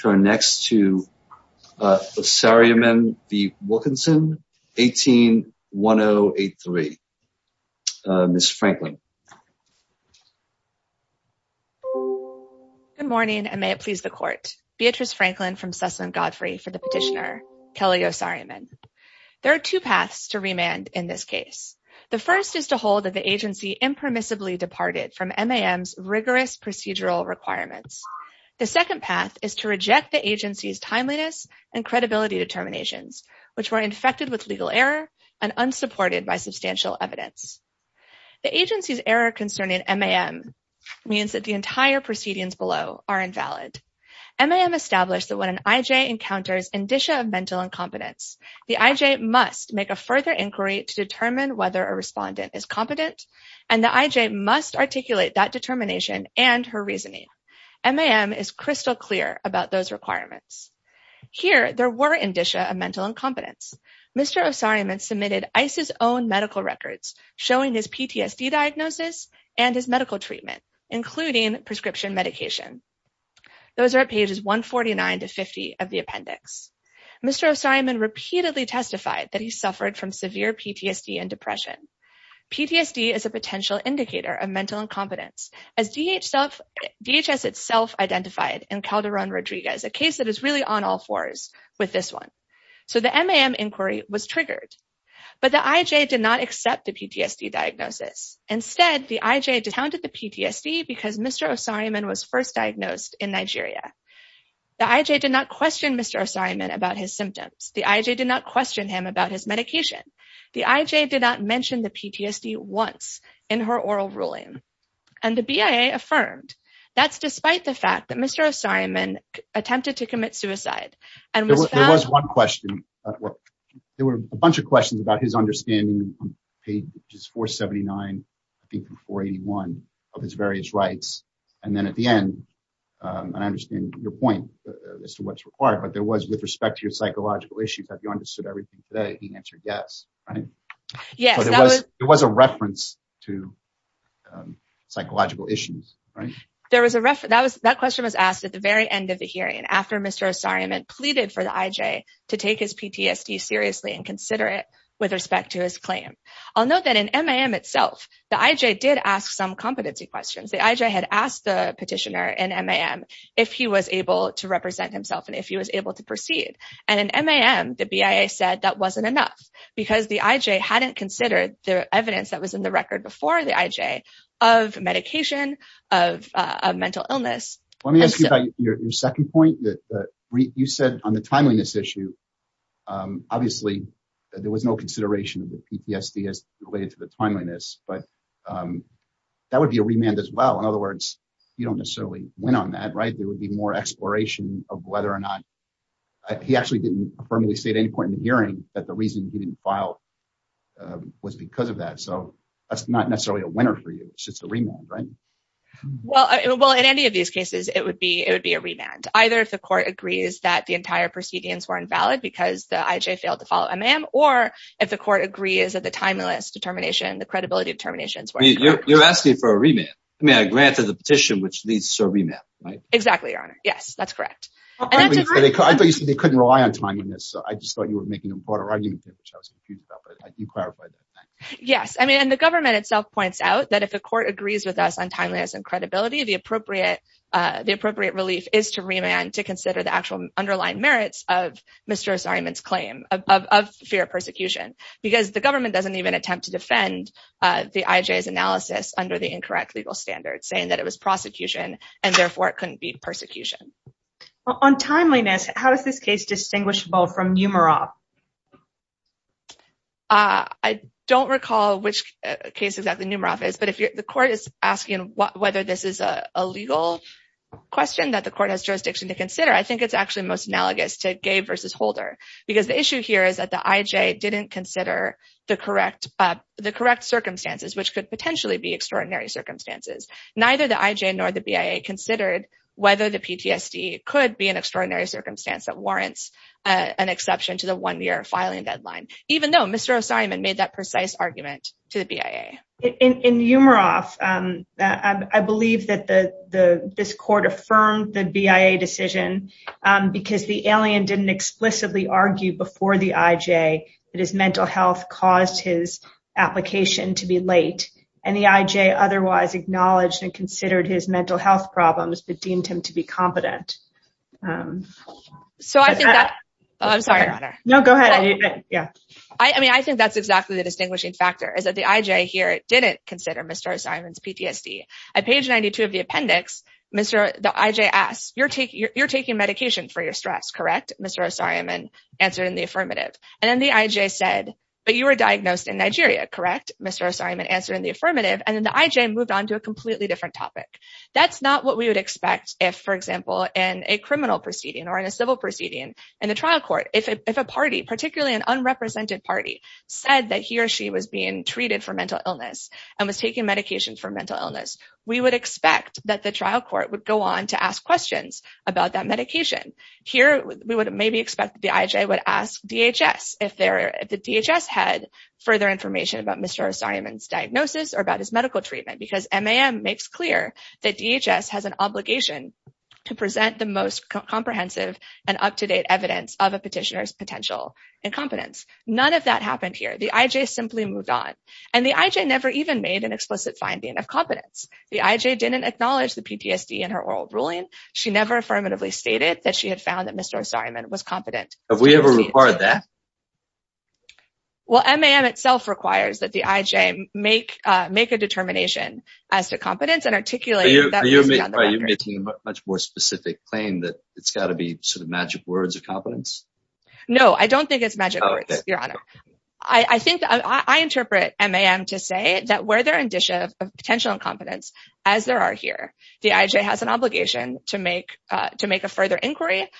turn next to Osariemen v. Wilkinson, 18-1083. Ms. Franklin. Good morning and may it please the court. Beatrice Franklin from Sussman Godfrey for the petitioner Kelly Osariemen. There are two paths to remand in this case. The first is to hold that the agency impermissibly departed from MAM's rigorous procedural requirements. The second path is to reject the agency's timeliness and credibility determinations, which were infected with legal error and unsupported by substantial evidence. The agency's error concerning MAM means that the entire proceedings below are invalid. MAM established that when an IJ encounters indicia of mental incompetence, the IJ must make a further inquiry to determine whether a respondent is competent and the IJ must articulate that determination and her reasoning. MAM is crystal clear about those requirements. Here, there were indicia of mental incompetence. Mr. Osariemen submitted ICE's own medical records showing his PTSD diagnosis and his medical treatment, including prescription medication. Those are at pages 149 to 50 of the appendix. Mr. Osariemen repeatedly testified that he suffered from severe PTSD and depression. PTSD is a potential indicator of mental incompetence, as DHS itself identified in Calderon-Rodriguez, a case that is really on all fours with this one. So the MAM inquiry was triggered. But the IJ did not accept the PTSD diagnosis. Instead, the IJ discounted the PTSD because Mr. Osariemen was first diagnosed in Nigeria. The IJ did not The IJ did not mention the PTSD once in her oral ruling. And the BIA affirmed, that's despite the fact that Mr. Osariemen attempted to commit suicide and was found- There was one question. There were a bunch of questions about his understanding on pages 479, I think 481 of his various rights. And then at the end, and I understand your point as to what's required, but there was with respect to your psychological issues, have you understood everything today? He answered yes, right? Yes. It was a reference to psychological issues, right? There was a reference. That question was asked at the very end of the hearing after Mr. Osariemen pleaded for the IJ to take his PTSD seriously and consider it with respect to his claim. I'll note that in MAM itself, the IJ did ask some competency questions. The IJ had asked the petitioner in MAM if he was able to represent himself and if he was able to proceed. And in that, that wasn't enough because the IJ hadn't considered the evidence that was in the record before the IJ of medication, of mental illness. Let me ask you about your second point that you said on the timeliness issue, obviously there was no consideration of the PTSD as related to the timeliness, but that would be a remand as well. In other words, you don't necessarily win on that, right? There would be more exploration of whether or not... He actually didn't affirmably say at any point in the hearing that the reason he didn't file was because of that. So that's not necessarily a winner for you. It's just a remand, right? Well, in any of these cases, it would be a remand. Either if the court agrees that the entire proceedings were invalid because the IJ failed to follow MAM, or if the court agrees that the timeliness determination, the credibility determinations were incorrect. You're asking for a remand. I mean, I granted the petition, which leads to a remand, right? Exactly, Your Honor. Yes, that's correct. I thought you said they couldn't rely on timeliness. I just thought you were making a broader argument, which I was confused about, but you clarified that. Yes. I mean, and the government itself points out that if a court agrees with us on timeliness and credibility, the appropriate relief is to remand to consider the actual underlying merits of Mr. Osorio's claim of fear of persecution, because the government doesn't even attempt to defend the IJ's analysis under the incorrect legal standards saying that it was prosecution, and therefore it couldn't be persecution. On timeliness, how is this case distinguishable from NUMEROF? I don't recall which case exactly NUMEROF is, but if the court is asking whether this is a legal question that the court has jurisdiction to consider, I think it's actually most analogous to Gabe versus Holder, because the issue here is that the IJ didn't consider the correct circumstances, which could potentially be extraordinary circumstances. Neither the IJ nor the BIA considered whether the PTSD could be an extraordinary circumstance that warrants an exception to the one-year filing deadline, even though Mr. Osorio made that precise argument to the BIA. In NUMEROF, I believe that this court affirmed the BIA decision because the alien didn't explicitly argue before the IJ that his mental health caused his application to be late, and the IJ otherwise acknowledged and considered his mental health problems, but deemed him to be competent. I think that's exactly the distinguishing factor, is that the IJ here didn't consider Mr. Osorio's PTSD. At page 92 of the appendix, the IJ asks, you're taking medication for your stress, correct? Mr. Osorio answered in the affirmative, and then the IJ moved on to a completely different topic. That's not what we would expect if, for example, in a criminal proceeding or in a civil proceeding in the trial court, if a party, particularly an unrepresented party, said that he or she was being treated for mental illness and was taking medication for mental illness, we would expect that the trial court would go on to ask questions about that medication. Here, we would maybe expect the IJ would ask DHS if the DHS had further information about Mr. Osorio's diagnosis or about his medical treatment, because MAM makes clear that DHS has an obligation to present the most comprehensive and up-to-date evidence of a petitioner's potential incompetence. None of that happened here. The IJ simply moved on, and the IJ never even made an explicit finding of competence. The IJ didn't acknowledge the PTSD in her oral ruling. She never affirmatively stated that she had found that Mr. Osorio was competent. Have we ever required that? Well, MAM itself requires that the IJ make a determination as to competence and articulate that. You're making a much more specific claim that it's got to be sort of magic words of competence? No, I don't think it's magic words, Your Honor. I think I interpret MAM to say that where there are indicia of potential incompetence, as there are here, the IJ has an obligation to make a further inquiry,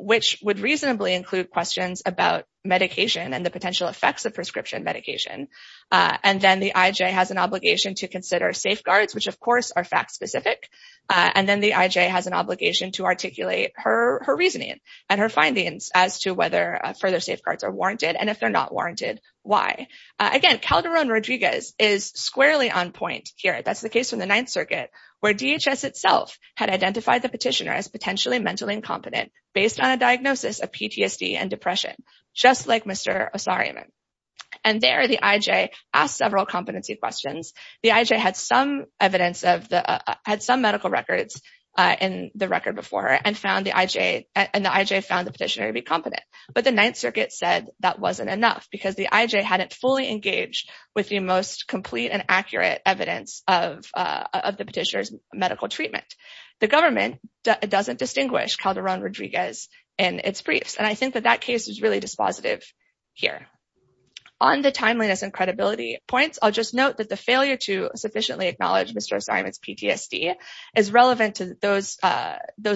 which would reasonably include questions about medication and the potential effects of prescription medication. And then the IJ has an obligation to consider safeguards, which of course are fact-specific. And then the IJ has an obligation to articulate her reasoning and her findings as to whether further safeguards are warranted, and if they're not warranted, why? Again, Calderon-Rodriguez is squarely on point here. That's the case from the based on a diagnosis of PTSD and depression, just like Mr. Osorio. And there, the IJ asked several competency questions. The IJ had some medical records in the record before her, and the IJ found the petitioner to be competent. But the Ninth Circuit said that wasn't enough, because the IJ hadn't fully engaged with the most complete and accurate evidence of the petitioner's medical treatment. The government doesn't distinguish Calderon-Rodriguez in its briefs. And I think that that case is really dispositive here. On the timeliness and credibility points, I'll just note that the failure to sufficiently acknowledge Mr. Osorio's PTSD is relevant to those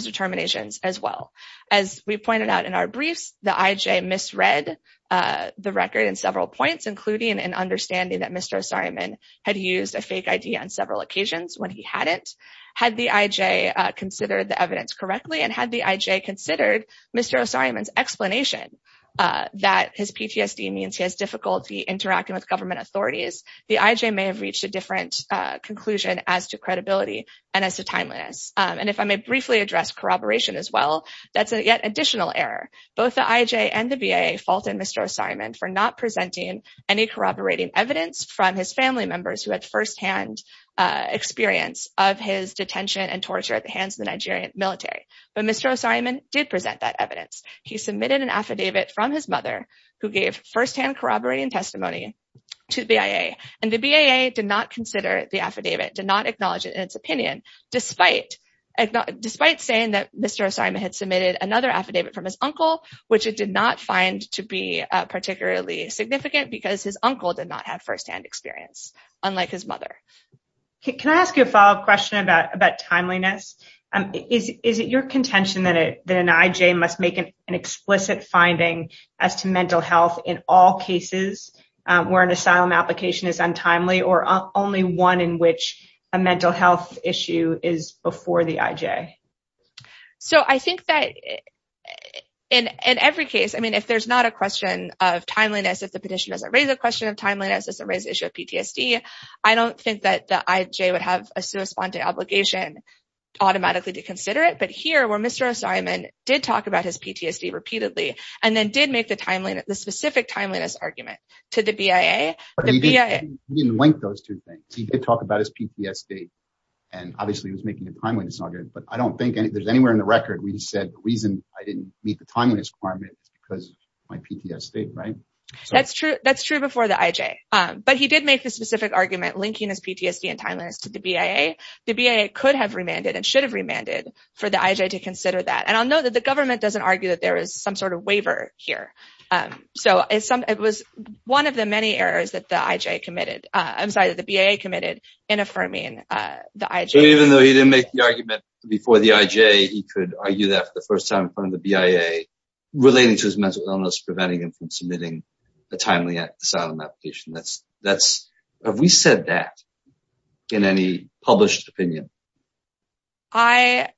determinations as well. As we pointed out in our briefs, the IJ misread the record in several points, including an understanding that Mr. Osorio had used a fake ID on several occasions when he hadn't. Had the IJ considered the evidence correctly, and had the IJ considered Mr. Osorio's explanation that his PTSD means he has difficulty interacting with government authorities, the IJ may have reached a different conclusion as to credibility and as to timeliness. And if I may briefly address corroboration as well, that's a yet additional error. Both the IJ and the VA faulted Mr. Osorio for not presenting any corroborating evidence from his family members who had firsthand experience of his detention and torture at the hands of the Nigerian military. But Mr. Osorio did present that evidence. He submitted an affidavit from his mother, who gave firsthand corroborating testimony to the BIA. And the BIA did not consider the affidavit, did not acknowledge it in its opinion, despite saying that Mr. Osorio had submitted another affidavit from his uncle, which it did not find to be particularly significant because his uncle did not have firsthand experience, unlike his mother. Can I ask you a follow-up question about timeliness? Is it your contention that an IJ must make an explicit finding as to mental health in all cases where an asylum application is untimely, or only one in which a mental health issue is before the IJ? So I think that in every case, I mean, if there's not a question of timeliness, if the petition doesn't raise a question of timeliness, doesn't raise the issue of PTSD, I don't think that the IJ would have a sui sponte obligation automatically to consider it. But here, where Mr. Osorio did talk about his PTSD repeatedly, and then did make the specific timeliness argument to the BIA, the BIA- He didn't link those two things. He did talk about his PTSD, and obviously he was making a timeliness argument. But I don't think there's anywhere in the record where he said, the reason I didn't meet the timeliness requirement is because my PTSD, right? That's true. That's true before the IJ. But he did make the specific argument linking his PTSD and timeliness to the BIA. The BIA could have remanded and should have remanded for the IJ to consider that. And I'll note that the government doesn't argue that there is some sort of waiver here. So it was one of the many errors that the IJ committed. I'm sorry, that the BIA committed in affirming the IJ- So even though he didn't make the argument before the IJ, he could argue that for the first time in front of the BIA relating to his mental illness, preventing him from submitting a timely asylum application. Have we said that in any published opinion? I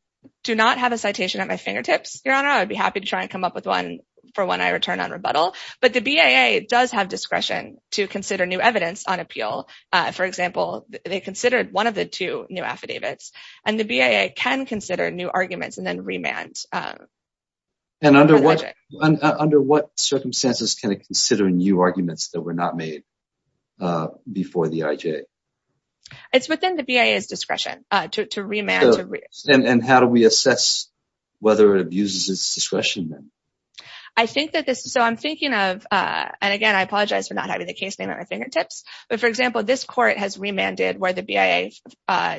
do not have a citation at my fingertips, Your Honor. I'd be happy to try and come up with one for when I return on rebuttal. But the BIA does have discretion to consider new evidence on appeal. For example, they considered one of the two new affidavits, and the BIA can consider new arguments and then remand. And under what circumstances can it consider new arguments that were not made before the IJ? It's within the BIA's discretion to remand. And how do we assess whether it abuses its discretion then? I think that this- So I'm thinking of, and again, I apologize for not having the case name at my fingertips. But for example, this court has remanded where the BIA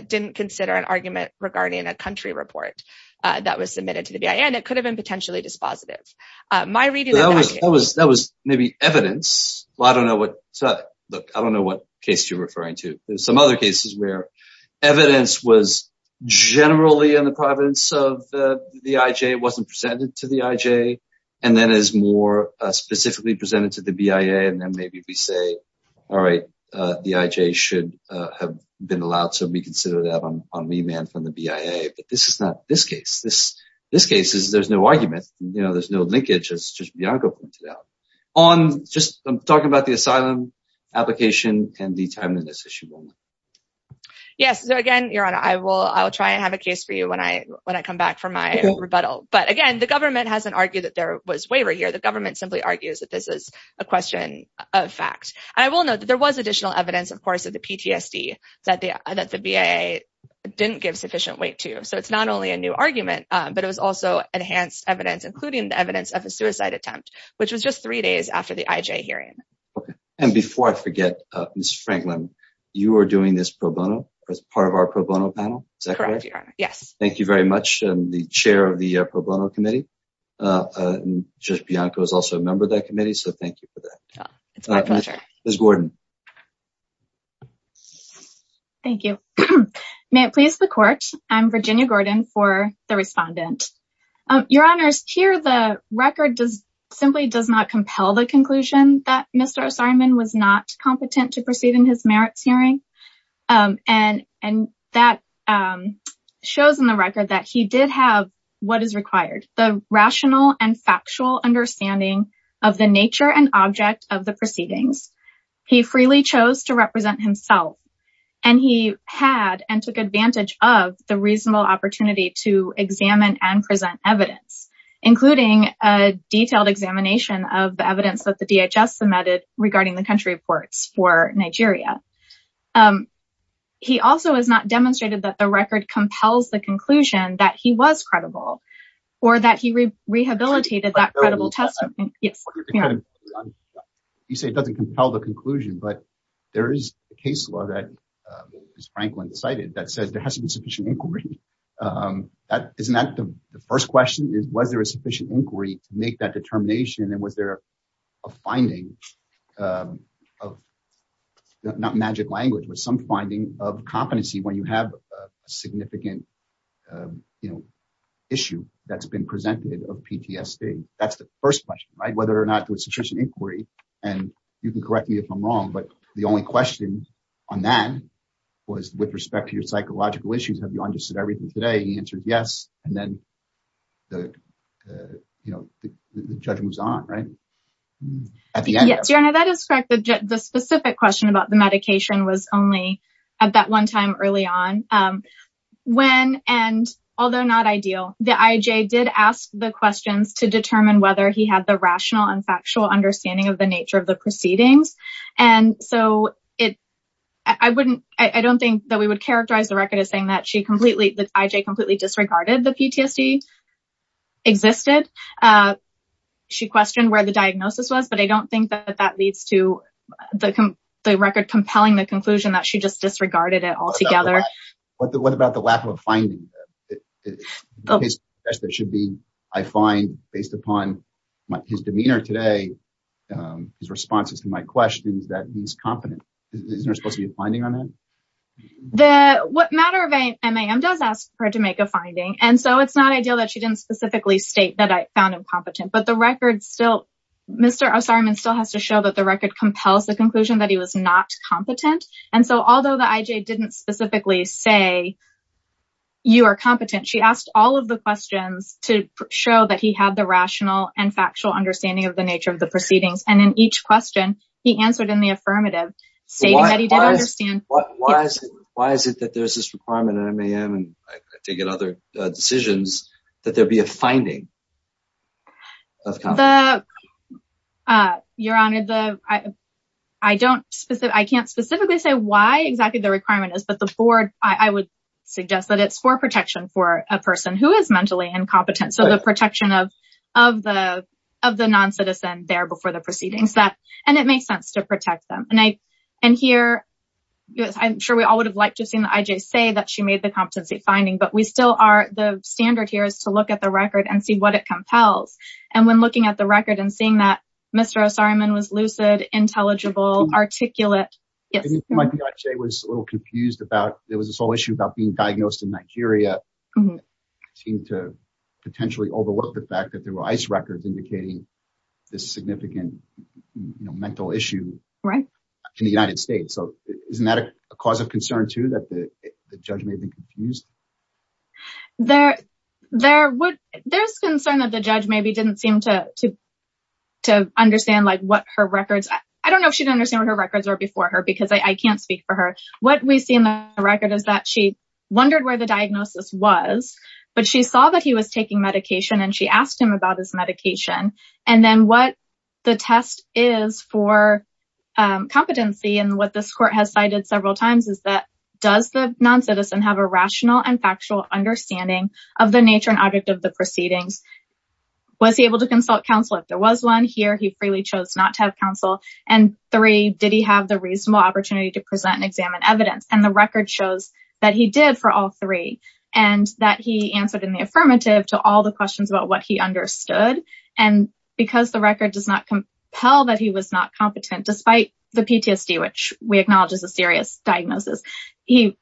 didn't consider an potentially dispositive. My reading- That was maybe evidence. I don't know what case you're referring to. There's some other cases where evidence was generally in the providence of the IJ, wasn't presented to the IJ, and then is more specifically presented to the BIA. And then maybe we say, all right, the IJ should have been allowed to reconsider that on remand from the BIA. But this is not this case. This case is there's no argument. There's no linkage, as just Bianco pointed out. I'm talking about the asylum application and the time in this issue. Yes. So again, Your Honor, I will try and have a case for you when I come back from my rebuttal. But again, the government hasn't argued that there was waiver here. The government simply argues that this is a question of fact. I will note that there was additional evidence, of course, the PTSD that the BIA didn't give sufficient weight to. So it's not only a new argument, but it was also enhanced evidence, including the evidence of a suicide attempt, which was just three days after the IJ hearing. And before I forget, Ms. Franklin, you are doing this pro bono as part of our pro bono panel. Is that correct? Yes. Thank you very much. I'm the chair of the pro bono committee. Judge Bianco is also a member of that committee. So thank you for that. It's my pleasure. Ms. Gordon. Thank you. May it please the court. I'm Virginia Gordon for the respondent. Your Honors, here the record simply does not compel the conclusion that Mr. Osirman was not competent to proceed in his merits hearing. And that shows in the record that he did have what is required, the rational and factual understanding of the nature and object of the proceedings. He freely chose to represent himself and he had and took advantage of the reasonable opportunity to examine and present evidence, including a detailed examination of the evidence that the DHS submitted regarding the country reports for Nigeria. He also has not demonstrated that the record compels the conclusion that he was credible or that he rehabilitated that credible testimony. Yes. You say it doesn't compel the conclusion, but there is a case law that Ms. Franklin cited that says there has to be sufficient inquiry. Isn't that the first question? Was there a sufficient inquiry to make that determination? And was there a finding of not magic language, but some finding of competency when you have a significant issue that's been presented of PTSD? That's the first question, right? Whether or not there was sufficient inquiry and you can correct me if I'm wrong, but the only question on that was with respect to your psychological issues, have you understood everything today? He answered yes, and then the judgment was on, right? Yes, your honor, that is correct. The specific question about the medication was only at that one time early on when, and although not ideal, the IJ did ask the questions to determine whether he had the rational and factual understanding of the nature of the proceedings. And so I don't think that we would characterize the record as saying that she the IJ completely disregarded the PTSD existed. She questioned where the diagnosis was, but I don't think that that leads to the record compelling the conclusion that she just disregarded it altogether. What about the lack of a finding? That should be, I find based upon his demeanor today, his responses to my questions, that he's competent. Isn't there supposed to be a finding on that? What matter of MAM does ask her to make a finding, and so it's not ideal that she didn't specifically state that I found him competent, but the record still, Mr. Osirman still has to show that the record compels the conclusion that he was not competent. And so although the IJ didn't specifically say you are competent, she asked all of the questions to show that he had the rational and factual understanding of the nature of the proceedings. And in each question he answered in affirmative, stating that he did understand. Why is it that there's this requirement in MAM, and I take it other decisions, that there be a finding? Your Honor, I can't specifically say why exactly the requirement is, but the board, I would suggest that it's for protection for a person who is mentally incompetent. So the protection of the non-citizen there before the proceedings, and it makes sense to protect them. And here, I'm sure we all would have liked to have seen the IJ say that she made the competency finding, but we still are, the standard here is to look at the record and see what it compels. And when looking at the record and seeing that Mr. Osirman was lucid, intelligible, articulate. It might be that the IJ was a little confused about, there was this whole issue about being through ICE records indicating this significant mental issue in the United States. So isn't that a cause of concern too, that the judge may have been confused? There's concern that the judge maybe didn't seem to understand what her records, I don't know if she'd understand what her records were before her, because I can't speak for her. What we see in the record is that she saw that he was taking medication and she asked him about his medication. And then what the test is for competency and what this court has cited several times is that, does the non-citizen have a rational and factual understanding of the nature and object of the proceedings? Was he able to consult counsel? If there was one here, he freely chose not to have counsel. And three, did he have the reasonable opportunity to present and examine evidence? And the record shows that he did for all three and that he answered in the affirmative to all the questions about what he understood. And because the record does not compel that he was not competent, despite the PTSD, which we acknowledge is a serious diagnosis, he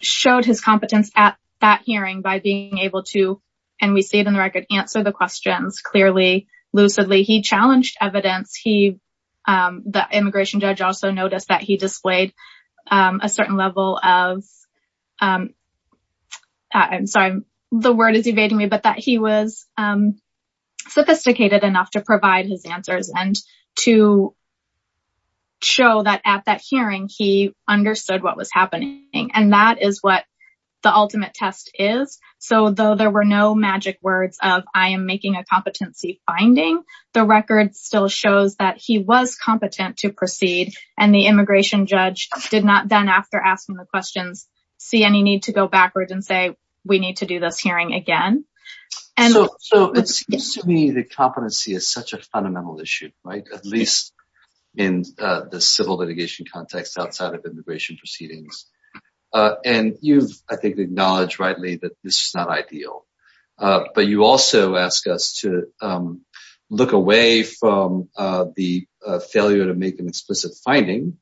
showed his competence at that hearing by being able to, and we see it in the record, answer the questions clearly, lucidly. He challenged evidence. The immigration judge also noticed that he displayed a certain level of, I'm sorry, the word is evading me, but that he was sophisticated enough to provide his answers and to show that at that hearing, he understood what was happening. And that is what the ultimate test is. So though there were no magic words of, I am making a competency finding, the record still shows that he was competent to proceed and the immigration judge did not, then after asking the questions, see any need to go backwards and say, we need to do this hearing again. So it seems to me that competency is such a fundamental issue, right? At least in the civil litigation context outside of immigration proceedings. And you've, I think, acknowledged rightly that this is not ideal. But you also ask us to look away from the failure to make an explicit finding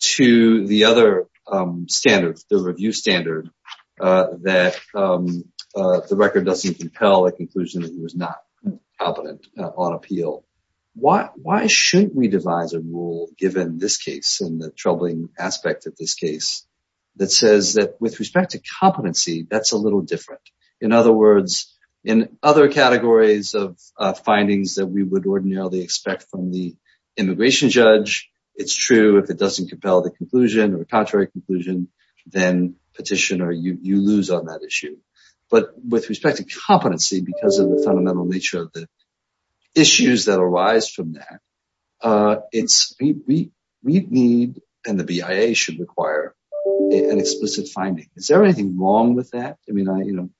to the other standards, the review standard, that the record doesn't compel a conclusion that he was not competent on appeal. Why shouldn't we devise a rule, given this case and the troubling aspect of this case, that says that with respect to competency, that's a little different. In other words, in other categories of findings that we would ordinarily expect from the immigration judge, it's true if it doesn't compel the conclusion or contrary conclusion, then petitioner, you lose on that issue. But with respect to competency, because of the fundamental nature of the it's, we need, and the BIA should require an explicit finding. Is there anything wrong with that? I mean, I, you know,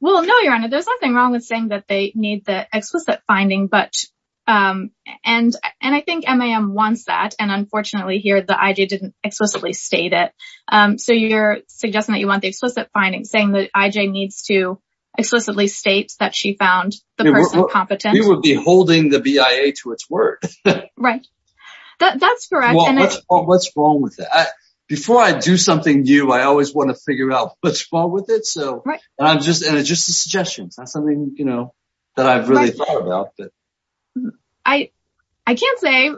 well, no, Your Honor, there's nothing wrong with saying that they need the explicit finding. But, and, and I think MAM wants that. And unfortunately, here, the IJ didn't explicitly state it. So you're suggesting that you want the explicit finding saying that IJ needs to find the person competent? We would be holding the BIA to its word. Right. That's correct. What's wrong with that? Before I do something new, I always want to figure out what's wrong with it. So I'm just, and it's just a suggestion. It's not something, you know, that I've really thought about. I, I can't say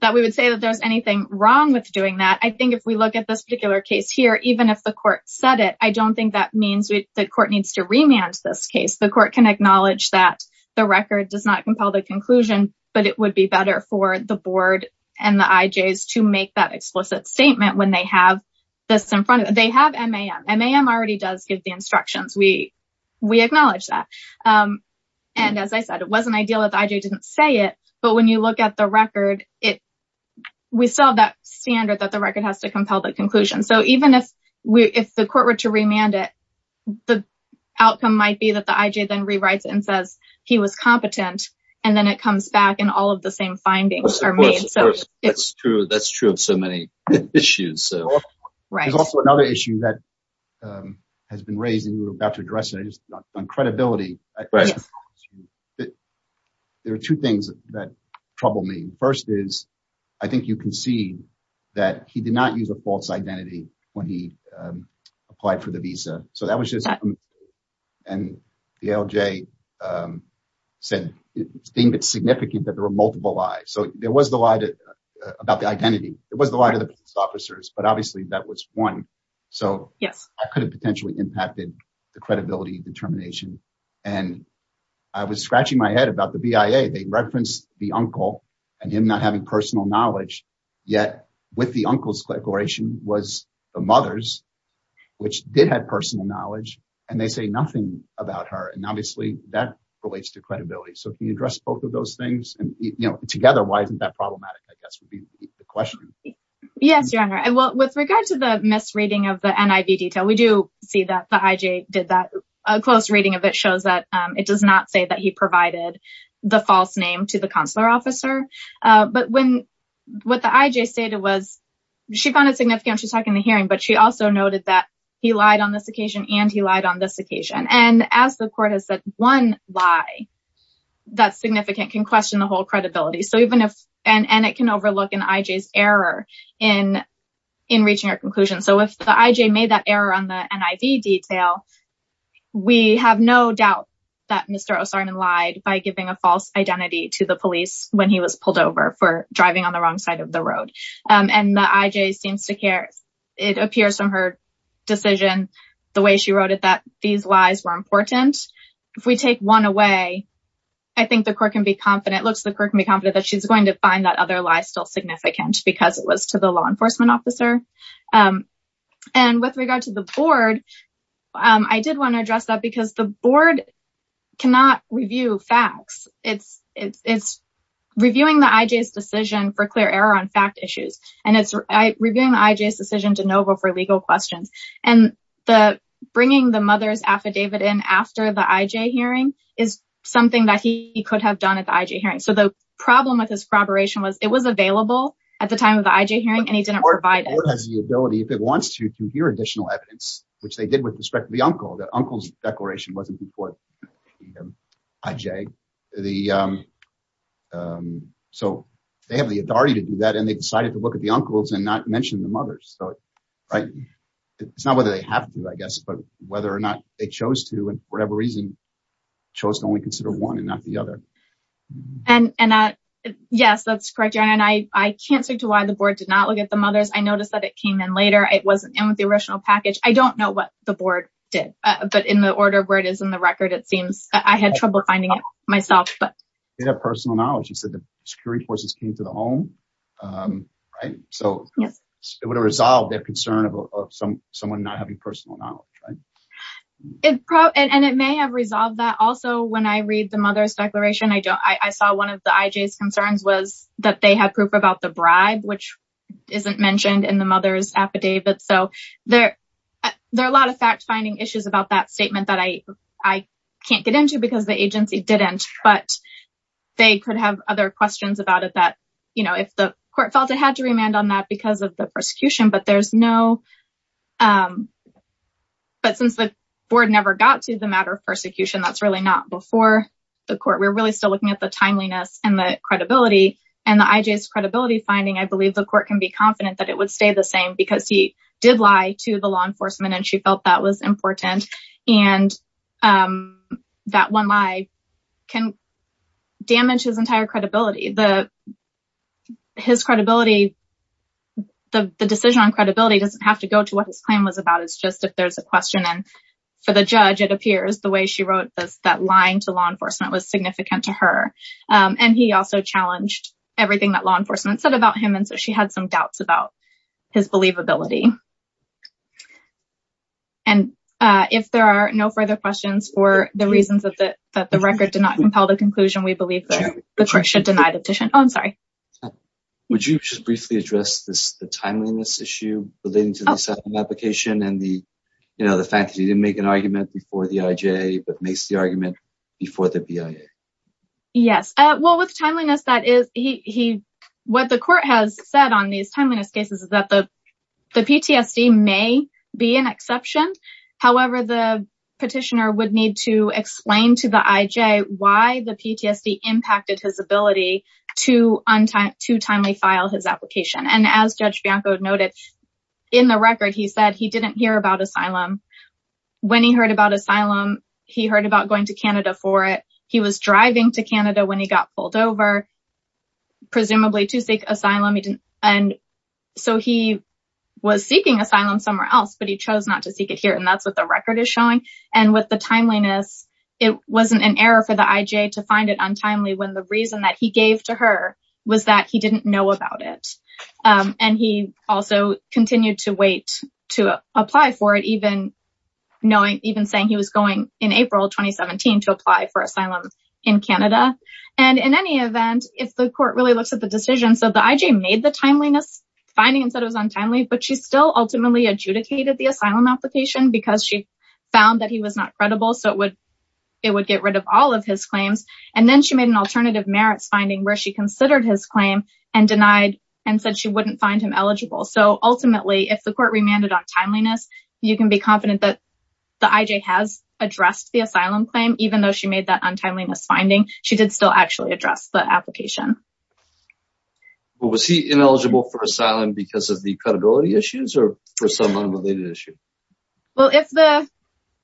that we would say that there's anything wrong with doing that. I think if we look at this particular case here, even if the court said it, I don't think that means the court needs to remand this case. The court can acknowledge that the record does not compel the conclusion, but it would be better for the board and the IJs to make that explicit statement when they have this in front of them. They have MAM. MAM already does give the instructions. We, we acknowledge that. And as I said, it wasn't ideal that the IJ didn't say it. But when you look at the record, it, we still have that standard that the record has to compel the outcome might be that the IJ then rewrites it and says he was competent. And then it comes back and all of the same findings are made. So it's true. That's true of so many issues. Right. There's also another issue that has been raised and we were about to address it on credibility. There are two things that trouble me. First is, I think you can see that he did use a false identity when he applied for the visa. So that was just, and the ALJ said it's significant that there were multiple lies. So there was the lie about the identity. It was the lie to the police officers, but obviously that was one. So I could have potentially impacted the credibility determination. And I was scratching my head about the BIA. They referenced the uncle and him not having personal knowledge yet with the uncle's declaration was the mother's, which did have personal knowledge and they say nothing about her. And obviously that relates to credibility. So if you address both of those things and you know, together, why isn't that problematic? I guess would be the question. Yes, Your Honor. And well, with regard to the misreading of the NIV detail, we do see that the IJ did that. A close reading of it shows that it does not say that he provided the false name to the consular officer. But when, what the IJ stated was, she found it significant. She's talking in the hearing, but she also noted that he lied on this occasion and he lied on this occasion. And as the court has said, one lie that's significant can question the whole credibility. So even if, and it can overlook an IJ's error in reaching our conclusion. So if the IJ made that error on the NIV detail, we have no doubt that Mr. Osarnan lied by giving a false identity to the police when he was pulled over for driving on the wrong side of the road. And the IJ seems to care. It appears from her decision, the way she wrote it, that these lies were important. If we take one away, I think the court can be confident, looks the court can be confident that she's going to find that other lie still significant because it was to the law enforcement officer. And with regard to the board, I did want to address that because the board cannot review facts. It's reviewing the IJ's decision for clear error on fact issues. And it's reviewing the IJ's decision to NOVA for legal questions. And the bringing the mother's affidavit in after the IJ hearing is something that he could have done at the IJ hearing. So the problem with his corroboration was it was available at the time of the IJ hearing and he didn't provide it. The board has the ability, if it wants to, to hear additional evidence, which they did with respect to the uncle. The uncle's declaration wasn't before the IJ. So they have the authority to do that. And they decided to look at the uncles and not mention the mothers. So it's not whether they have to, I guess, but whether or not they chose to, and for whatever reason chose to only consider one and not the other. And yes, that's correct. And I can't speak to why the board did not look at the mothers. I know what the board did, but in the order where it is in the record, it seems I had trouble finding it myself. They have personal knowledge. You said the security forces came to the home, right? So it would have resolved their concern of someone not having personal knowledge, right? And it may have resolved that. Also, when I read the mother's declaration, I saw one of the IJ's concerns was that they had proof about which isn't mentioned in the mother's affidavit. So there are a lot of fact-finding issues about that statement that I can't get into because the agency didn't, but they could have other questions about it that, you know, if the court felt it had to remand on that because of the persecution, but there's no, but since the board never got to the matter of persecution, that's really not before the court. We're really still looking at the timeliness and the credibility finding. I believe the court can be confident that it would stay the same because he did lie to the law enforcement and she felt that was important. And that one lie can damage his entire credibility. His credibility, the decision on credibility doesn't have to go to what his claim was about. It's just if there's a question and for the judge, it appears the way she wrote this, that lying to law enforcement was significant to her. And he also challenged everything that law enforcement said about him. And so she had some doubts about his believability. And if there are no further questions for the reasons that the record did not compel the conclusion, we believe that the court should deny the petition. Oh, I'm sorry. Would you just briefly address this, the timeliness issue relating to the settlement application and the, you know, the fact that he didn't make an argument before the IJA, but makes the argument before the BIA? Yes. Well, with timeliness, what the court has said on these timeliness cases is that the PTSD may be an exception. However, the petitioner would need to explain to the IJ why the PTSD impacted his ability to timely file his application. And as Judge Bianco noted in the record, he said he didn't hear about asylum. When he heard about going to Canada for it, he was driving to Canada when he got pulled over, presumably to seek asylum. And so he was seeking asylum somewhere else, but he chose not to seek it here. And that's what the record is showing. And with the timeliness, it wasn't an error for the IJ to find it untimely when the reason that he gave to her was that he didn't know about it. And he also continued to wait to apply for it, even saying he was going in April 2017 to apply for asylum in Canada. And in any event, if the court really looks at the decision, so the IJ made the timeliness finding and said it was untimely, but she still ultimately adjudicated the asylum application because she found that he was not credible. So it would get rid of all of his claims. And then she made an alternative merits finding where she considered his claim and denied and said she wouldn't find him eligible. So ultimately, if the court remanded on timeliness, you can be confident that the IJ has addressed the asylum claim, even though she made that untimeliness finding, she did still actually address the application. Well, was he ineligible for asylum because of the credibility issues or for some unrelated issue? Well,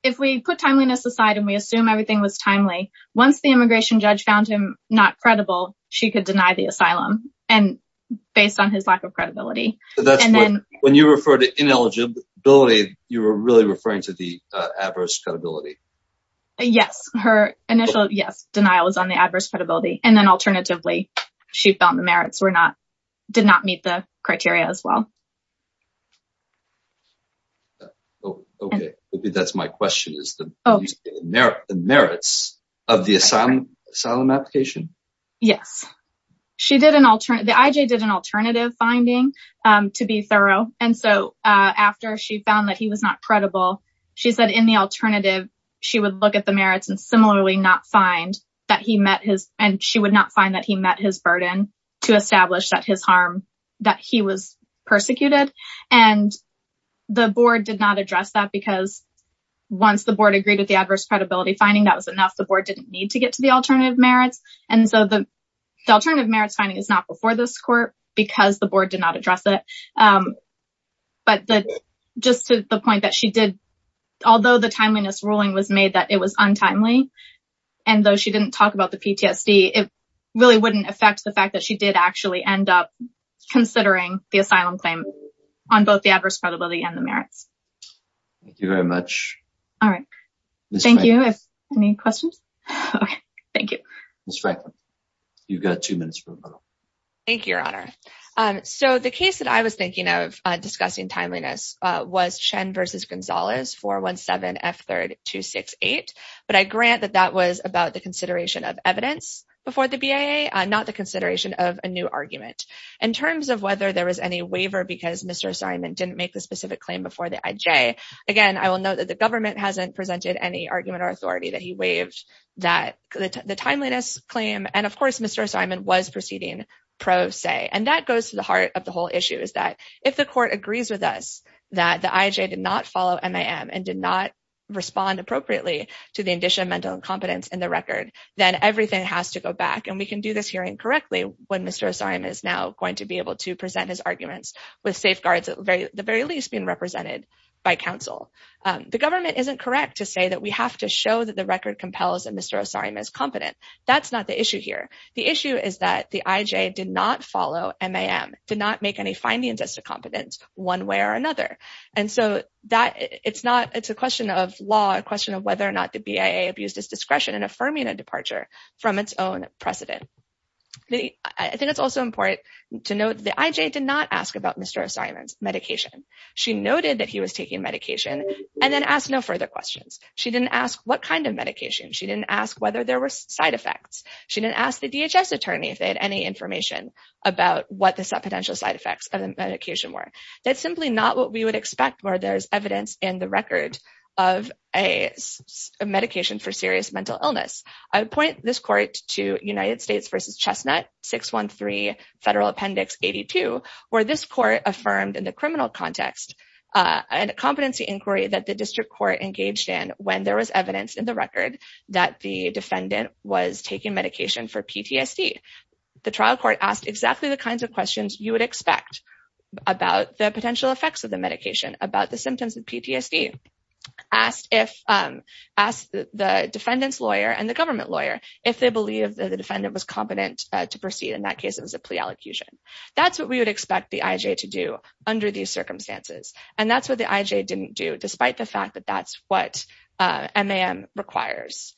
if we put timeliness aside and we assume everything was and based on his lack of credibility, and then when you refer to ineligibility, you were really referring to the adverse credibility. Yes. Her initial yes, denial is on the adverse credibility. And then alternatively, she found the merits were not did not meet the criteria as well. Okay. That's my question is the merits of the asylum application. Yes, she did an alternate the IJ did an alternative finding to be thorough. And so after she found that he was not credible, she said in the alternative, she would look at the merits and similarly not find that he met his and she would not find that he met his burden to establish that his harm that he was persecuted. And the board did not address that because once the board agreed with the adverse credibility finding that was enough, the board didn't need to get to the alternative merits. And so the alternative merits finding is not before this court because the board did not address it. But just to the point that she did, although the timeliness ruling was made that it was untimely. And though she didn't talk about the PTSD, it really wouldn't affect the fact that she did actually end up considering the asylum claim on both the adverse credibility and the merits. Thank you very much. All right. Thank you. Any questions? Okay. Thank you. Ms. Franklin, you've got two minutes. Thank you, Your Honor. So the case that I was thinking of discussing timeliness was Chen versus Gonzalez 417F3268. But I grant that that was about the consideration of evidence before the BIA, not the consideration of a new argument. In terms of whether there was any waiver because Mr. Simon didn't make the specific claim before the IJ. Again, I will note that the authority that he waived that the timeliness claim. And of course, Mr. Simon was proceeding pro se. And that goes to the heart of the whole issue is that if the court agrees with us that the IJ did not follow MIM and did not respond appropriately to the addition of mental incompetence in the record, then everything has to go back. And we can do this hearing correctly when Mr. Simon is now going to be able to present his arguments with safeguards at the very least being represented by counsel. The government isn't correct to say that we have to show that the record compels that Mr. Simon is competent. That's not the issue here. The issue is that the IJ did not follow MIM, did not make any findings as to competence one way or another. And so it's a question of law, a question of whether or not the BIA abused its discretion in affirming a departure from its own precedent. I think it's also important to note that the IJ did not ask about Mr. Simon's medication. She noted that he was taking medication and then asked no further questions. She didn't ask what kind of medication. She didn't ask whether there were side effects. She didn't ask the DHS attorney if they had any information about what the potential side effects of the medication were. That's simply not what we would expect where there's evidence in the record of a medication for serious mental illness. I would point this where this court affirmed in the criminal context and competency inquiry that the district court engaged in when there was evidence in the record that the defendant was taking medication for PTSD. The trial court asked exactly the kinds of questions you would expect about the potential effects of the medication, about the symptoms of PTSD, asked the defendant's lawyer and the government lawyer if they believe that the defendant was competent to proceed. In that case, a plea allocution. That's what we would expect the IJ to do under these circumstances. And that's what the IJ didn't do despite the fact that that's what MAM requires.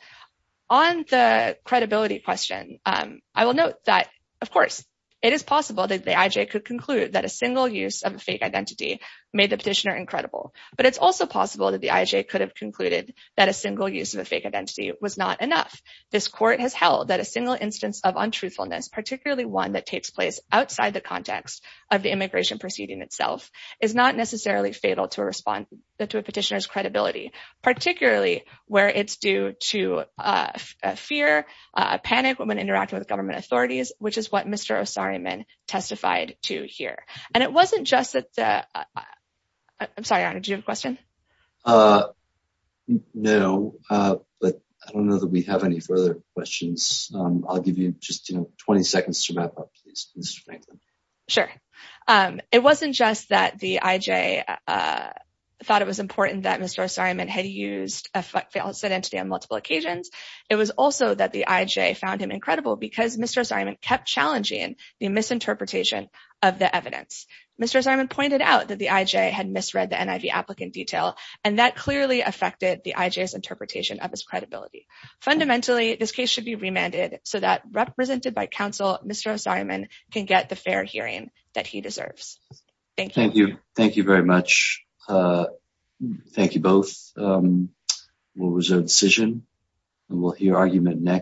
On the credibility question, I will note that, of course, it is possible that the IJ could conclude that a single use of a fake identity made the petitioner incredible. But it's also possible that the IJ could have concluded that a single use of a fake identity was not enough. This court has held that a single instance of untruthfulness, particularly one that takes place outside the context of the immigration proceeding itself, is not necessarily fatal to a petitioner's credibility, particularly where it's due to fear, panic when interacting with government authorities, which is what Mr. Osorioman testified to here. And it wasn't just that... I'm sorry, did you have a question? Uh, no, but I don't know that we have any further questions. I'll give you just, you know, 20 seconds to wrap up, please, Mr. Franklin. Sure. It wasn't just that the IJ thought it was important that Mr. Osorioman had used a false identity on multiple occasions. It was also that the IJ found him incredible because Mr. Osorioman kept challenging the misinterpretation of the evidence. Mr. Osorioman pointed out that the IJ had misread the NIV applicant detail, and that clearly affected the IJ's interpretation of his credibility. Fundamentally, this case should be remanded so that, represented by counsel, Mr. Osorioman can get the fair hearing that he deserves. Thank you. Thank you. Thank you very much. Thank you both. We'll reserve decision and we'll hear argument next.